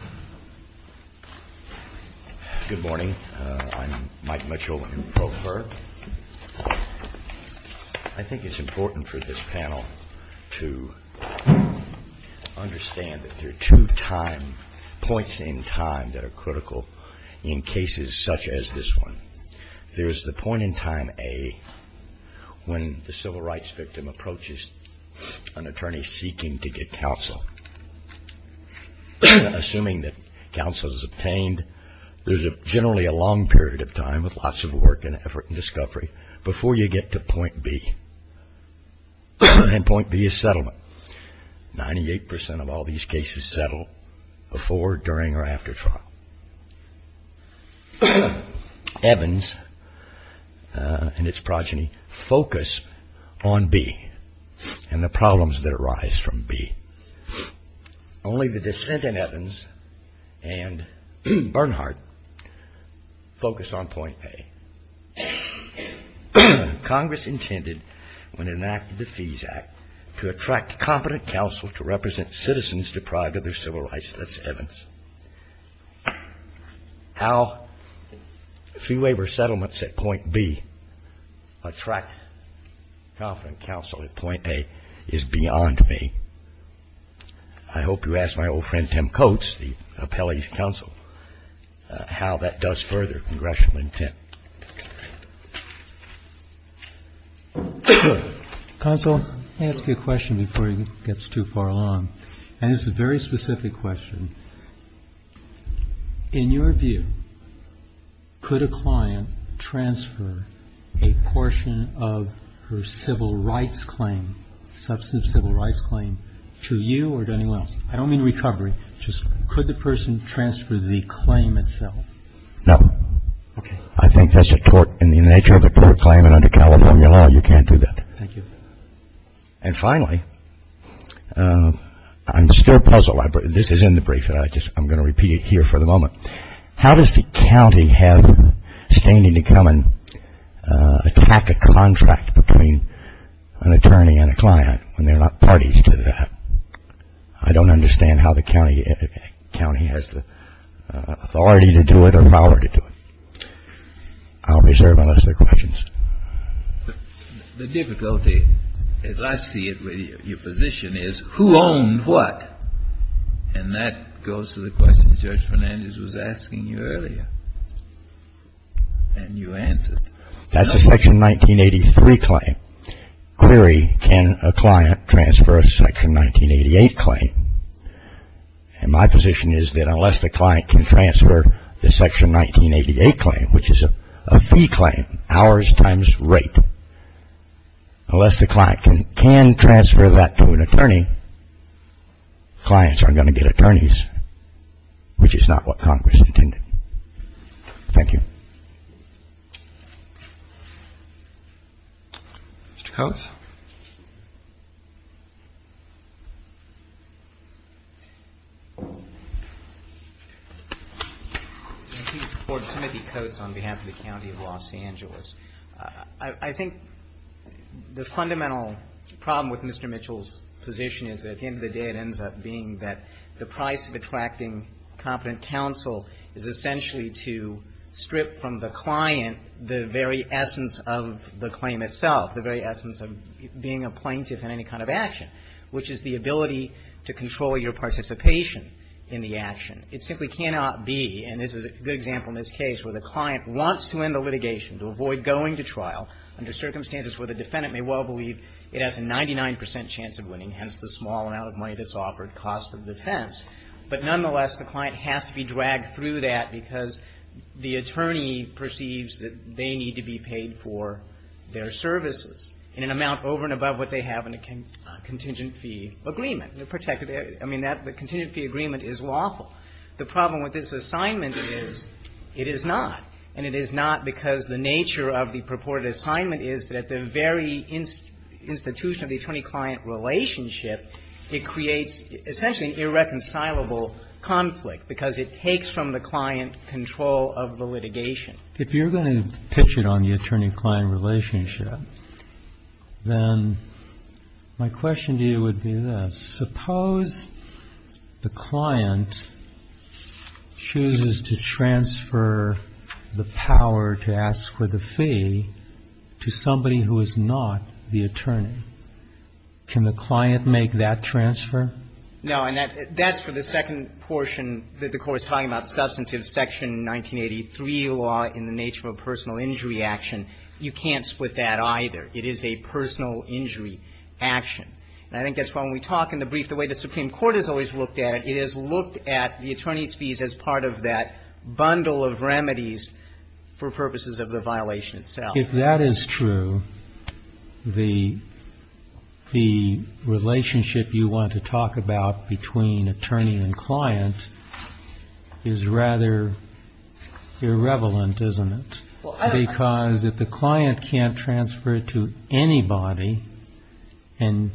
I think it's important for this panel to understand that there are two points in time that are critical in cases such as this one. There's the point in time A when the civil rights victim approaches an attorney seeking to get counsel. Assuming that counsel is obtained, there's generally a long period of time with lots of work and effort and discovery before you get to point B. And point B is settlement. Ninety-eight percent of all these cases settle before, during, or after trial. Evans and its progeny focus on B and the problems that arise from B. Only the dissent in Evans and Bernhardt focus on point A. Congress intended when it enacted the Fees Act to attract competent counsel to represent citizens deprived of their civil rights. That's Evans. How fee waiver settlements at point B attract competent counsel at point A is beyond me. I hope you ask my old friend Tim Coates, the appellee's counsel, how that does further congressional intent. Good. Counsel, let me ask you a question before it gets too far along. And it's a very specific question. In your view, could a client transfer a portion of her civil rights claim, substantive civil rights claim, to you or to anyone else? I don't mean recovery. Just could the person transfer the claim itself? No. Okay. I think that's a tort. In the nature of a tort claim and under California law, you can't do that. Thank you. And finally, I'm still puzzled. This is in the brief that I just, I'm going to repeat it here for the moment. How does the county have standing to come and attack a contract between an attorney and a client when they're not parties to that? I don't understand how the county has the authority to do it or power to do it. I'll reserve unless there are questions. The difficulty, as I see it with your position, is who owned what? And that goes to the question Judge Fernandez was asking you earlier. And you answered. That's a Section 1983 claim. Clearly, can a client transfer a Section 1983 claim and my position is that unless the client can transfer the Section 1988 claim, which is a fee claim, hours times rate, unless the client can transfer that to an attorney, clients aren't going to get attorneys, which is not what Congress intended. Thank you. Mr. Coates. Thank you, Mr. Court. Timothy Coates on behalf of the County of Los Angeles. I think the fundamental problem with Mr. Mitchell's position is that at the end of the day it ends up being that the price of attracting competent counsel is essentially to strip from the client the very essence of the claim itself, the very essence of being a plaintiff in any kind of action, which is the ability to control your participation in the action. It simply cannot be, and this is a good example in this case, where the client wants to end the litigation to avoid going to trial under circumstances where the defendant may well believe it has a 99 percent chance of winning, hence the small amount of money that's offered, cost of defense. But nonetheless, the client has to be dragged through that because the attorney perceives that they need to be paid for their services in an amount over and above what they have in a contingent fee agreement. I mean, the contingent fee agreement is lawful. The problem with this assignment is it is not, and it is not because the nature of the purported assignment is that at the very institution of the attorney-client relationship, it creates essentially an irreconcilable conflict, because it takes from the client control of the litigation. If you're going to pitch it on the attorney-client relationship, then my question to you would be this. Suppose the client chooses to transfer the power to ask the plaintiff to transfer the fee to somebody who is not the attorney. Can the client make that transfer? No. And that's for the second portion that the Court is talking about, substantive Section 1983 law in the nature of a personal injury action. You can't split that either. It is a personal injury action. And I think that's why when we talk in the brief, the way the Supreme Court has always looked at it, it has looked at the attorney's remedies for purposes of the violation itself. If that is true, the relationship you want to talk about between attorney and client is rather irrevelent, isn't it? Because if the client can't transfer it to anybody and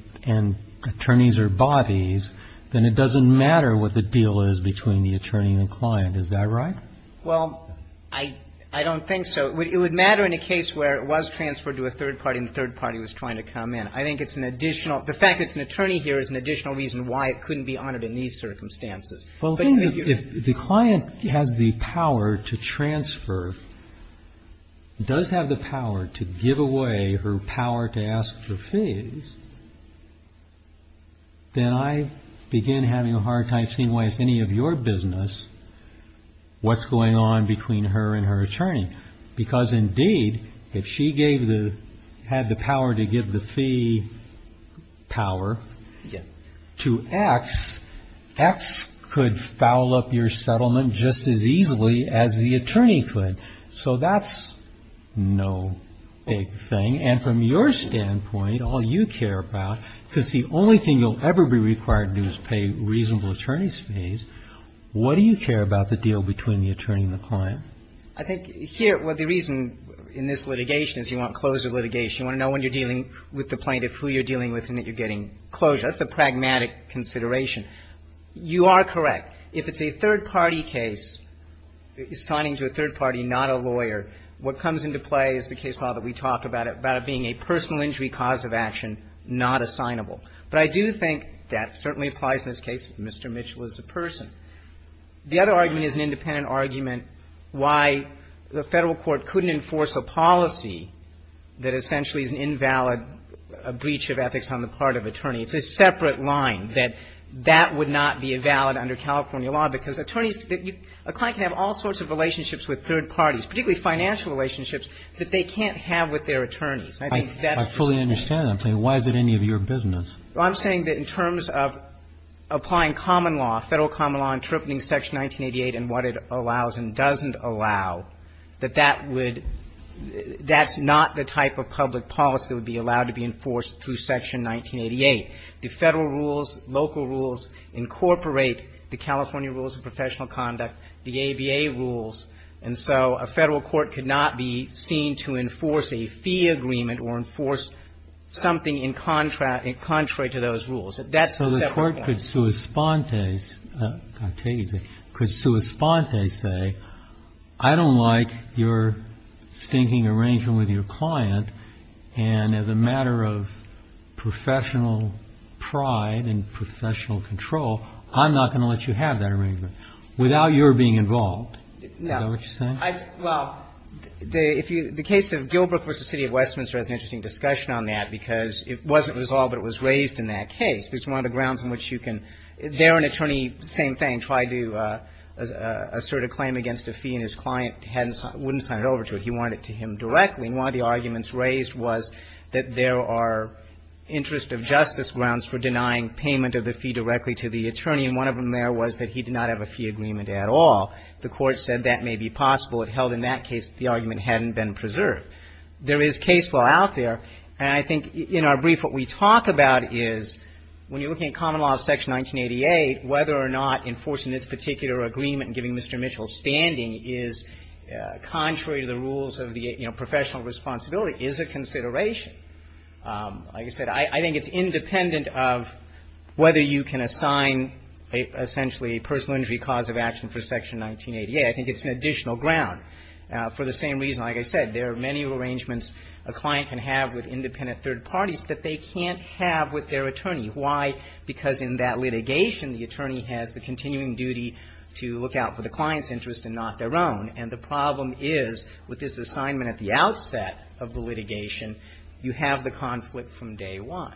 attorneys are bodies, then it doesn't matter what the deal is between the attorney and the client. Is that right? Well, I don't think so. It would matter in a case where it was transferred to a third party and the third party was trying to come in. I think it's an additional the fact that it's an attorney here is an additional reason why it couldn't be honored in these circumstances. Well, the thing is, if the client has the power to transfer, does have the power to give away her power to ask for fees, then I begin having a hard time seeing why it's any of your business what's going on between her and her attorney. Because indeed, if she had the power to give the fee power to X, X could foul up your settlement just as easily as the attorney could. So that's no big thing. And from your standpoint, all you care about, since the only thing you'll ever be required to do is pay reasonable attorney's fees, what do you care about the deal between the attorney and the client? I think here, well, the reason in this litigation is you want closure litigation. You want to know when you're dealing with the plaintiff, who you're dealing with, and that you're getting closure. That's a pragmatic consideration. You are correct. If it's a third party case, signing to a third party, not a lawyer, what comes into play is the case law that we talked about, about it being a personal injury cause of action, not assignable. But I do think that certainly applies in this case, Mr. Mitchell is a person. The other argument is an independent argument why the Federal Court couldn't enforce a policy that essentially is an invalid breach of ethics on the part of attorney. It's a separate line, that that would not be valid under California law, because attorneys, a client can have all sorts of relationships with third parties, particularly financial relationships that they can't have with their attorneys. I think that's the thing. I fully understand that. I'm saying why is it any of your business? Well, I'm saying that in terms of applying common law, Federal common law interpreting Section 1988 and what it allows and doesn't allow, that that would – that's not the type of public policy that would be allowed to be enforced through Section 1988. The Federal rules, local rules incorporate the California rules of professional conduct, the ABA rules, and so a Federal court could not be seen to enforce a fee agreement or enforce something in contract – contrary to those rules. That's a separate point. So the Court could sua sponte, I'll tell you, could sua sponte say, I don't like your stinking arrangement with your client, and as a matter of professional pride and professional control, I'm not going to let you have that arrangement without your being involved. Is that what you're saying? Well, the case of Gilbrook v. City of Westminster has an interesting discussion on that, because it wasn't resolved, but it was raised in that case. There's one of the grounds on which you can – there, an attorney, same thing, tried to assert a claim against a fee, and his client wouldn't sign it over to him. He wanted it to him directly. And one of the arguments raised was that there are interest of justice grounds for denying payment of the fee directly to the attorney, and one of them there was that he did not have a fee agreement at all. The Court said that may be possible. It held in that case that the argument hadn't been preserved. There is case law out there, and I think in our brief what we talk about is when you're looking at common law of Section 1988, whether or not enforcing this particular agreement and giving Mr. Mitchell standing is contrary to the rules of the professional responsibility is a consideration. Like I said, I think it's independent of whether you can assign essentially a personal injury cause of action for Section 1988. I think it's an additional ground. For the same reason, like I said, there are many arrangements a client can have with independent third parties that they can't have with their attorney. Why? Because in that litigation, the attorney has the continuing duty to look out for the client's interest and not their own. And the problem is with this assignment at the outset of the litigation, you have the conflict from day one.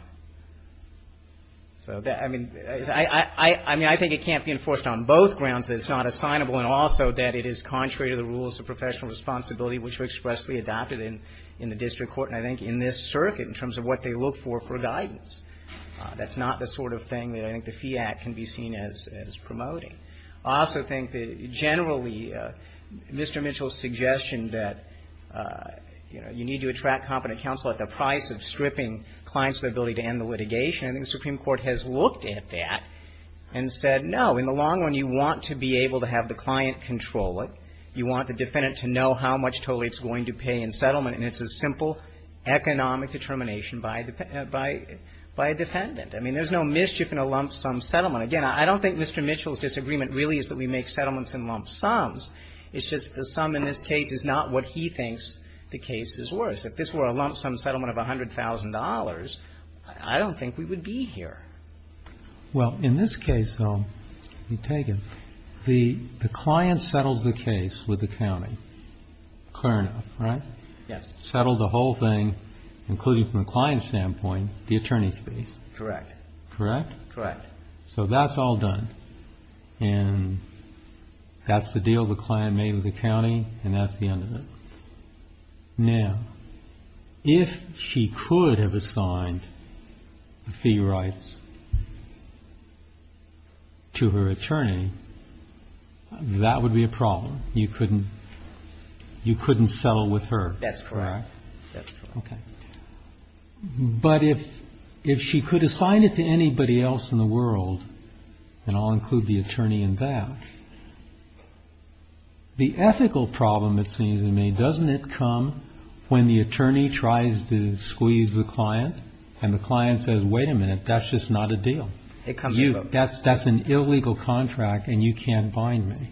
So, I mean, I think it can't be enforced on both grounds that it's not assignable and also that it is contrary to the rules of professional responsibility which were expressly adopted in the district court, and I think in this circuit in terms of what they look for for guidance. That's not the sort of thing that I think the Fee Act can be seen as promoting. I also think that generally Mr. Mitchell's suggestion that, you know, you need to end the litigation, I think the Supreme Court has looked at that and said, no, in the long run you want to be able to have the client control it. You want the defendant to know how much totally it's going to pay in settlement, and it's a simple economic determination by a defendant. I mean, there's no mischief in a lump sum settlement. Again, I don't think Mr. Mitchell's disagreement really is that we make settlements in lump sums. It's just the sum in this case is not what he thinks the case is worth. If this were a lump sum settlement of $100,000, I don't think we would be here. Well, in this case, though, the client settles the case with the county. Clear enough, right? Yes. Settled the whole thing, including from a client standpoint, the attorney's fees. Correct. Correct? Correct. So that's all done. And that's the deal the client made with the county, and that's the end of it. Now, if she could have assigned the fee rights to her attorney, that would be a problem. You couldn't settle with her. That's correct. Okay. But if she could assign it to anybody else in the world, and I'll include the attorney in that, the ethical problem, it seems to me, doesn't it come when the attorney tries to squeeze the client and the client says, wait a minute, that's just not a deal? It comes up. That's an illegal contract and you can't bind me.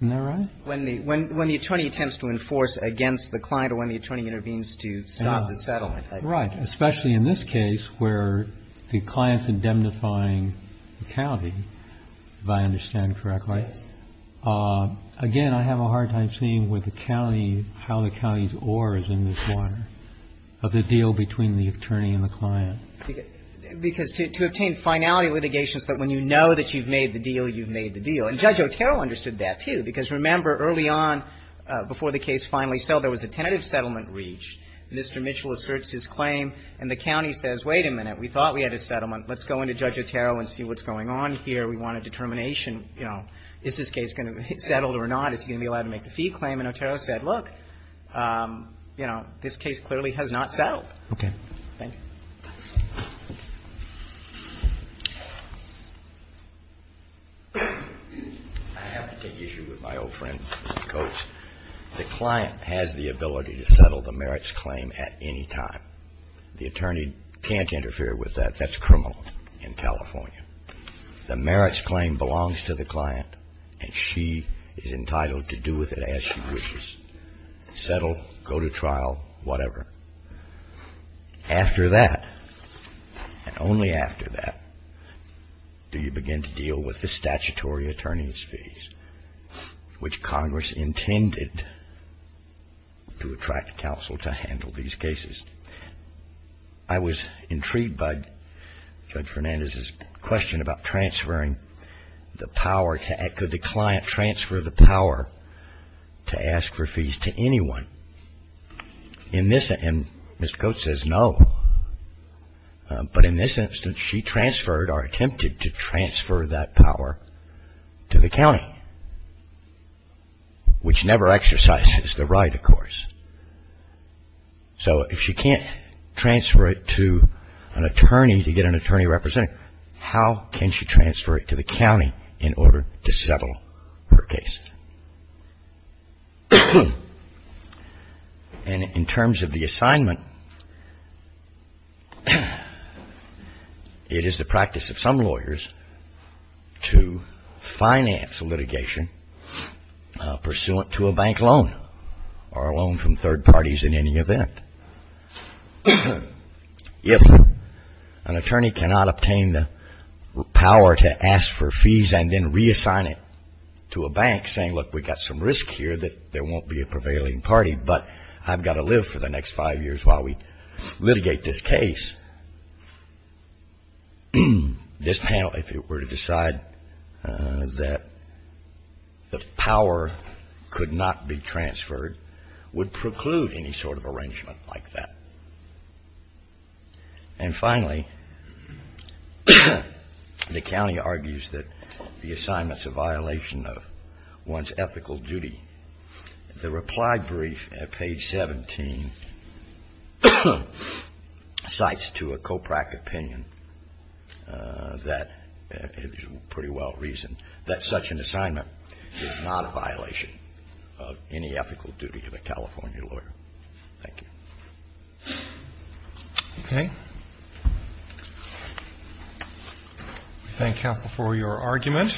Isn't that right? When the attorney attempts to enforce against the client or when the attorney intervenes to stop the settlement. Right. Especially in this case where the client's indemnifying the county, if I understand correctly. Yes. Again, I have a hard time seeing with the county how the county's oar is in this water of the deal between the attorney and the client. Because to obtain finality litigations, but when you know that you've made the deal, you've made the deal. And Judge Otero understood that, too. Because remember, early on, before the case finally settled, there was a tentative settlement reached. Mr. Mitchell asserts his claim and the county says, wait a minute. We thought we had a settlement. Let's go into Judge Otero and see what's going on here. We want a determination. You know, is this case going to be settled or not? Is he going to be allowed to make the fee claim? And Otero said, look, you know, this case clearly has not settled. Thank you. I have to take issue with my old friend, Mr. Coates. The client has the ability to settle the merits claim at any time. The attorney can't interfere with that. That's criminal in California. The merits claim belongs to the client and she is entitled to do with it as she wishes. Settle, go to trial, whatever. After that, and only after that, do you begin to deal with the statutory attorney's to attract counsel to handle these cases. I was intrigued by Judge Fernandez's question about transferring the power. Could the client transfer the power to ask for fees to anyone? And Mr. Coates says no. But in this instance, she transferred or attempted to transfer that power to the county, which never exercises the right, of course. So if she can't transfer it to an attorney to get an attorney representing her, how can she transfer it to the county in order to settle her case? And in terms of the assignment, it is the practice of some lawyers to finance litigation pursuant to a bank loan or a loan from third parties in any event. If an attorney cannot obtain the power to ask for fees and then reassign it to a bank, saying, look, we've got some risk here that there won't be a prevailing party, but I've got to live for the next five years while we litigate this case, this panel, if it were to decide that the power could not be transferred, would preclude any sort of arrangement like that. And finally, the county argues that the assignment's a violation of one's ethical duty. The reply brief at page 17 cites to a COPRAC opinion that, it is pretty well reasoned, that such an assignment is not a violation of any ethical duty of a California lawyer. Thank you. Okay. We thank counsel for your argument.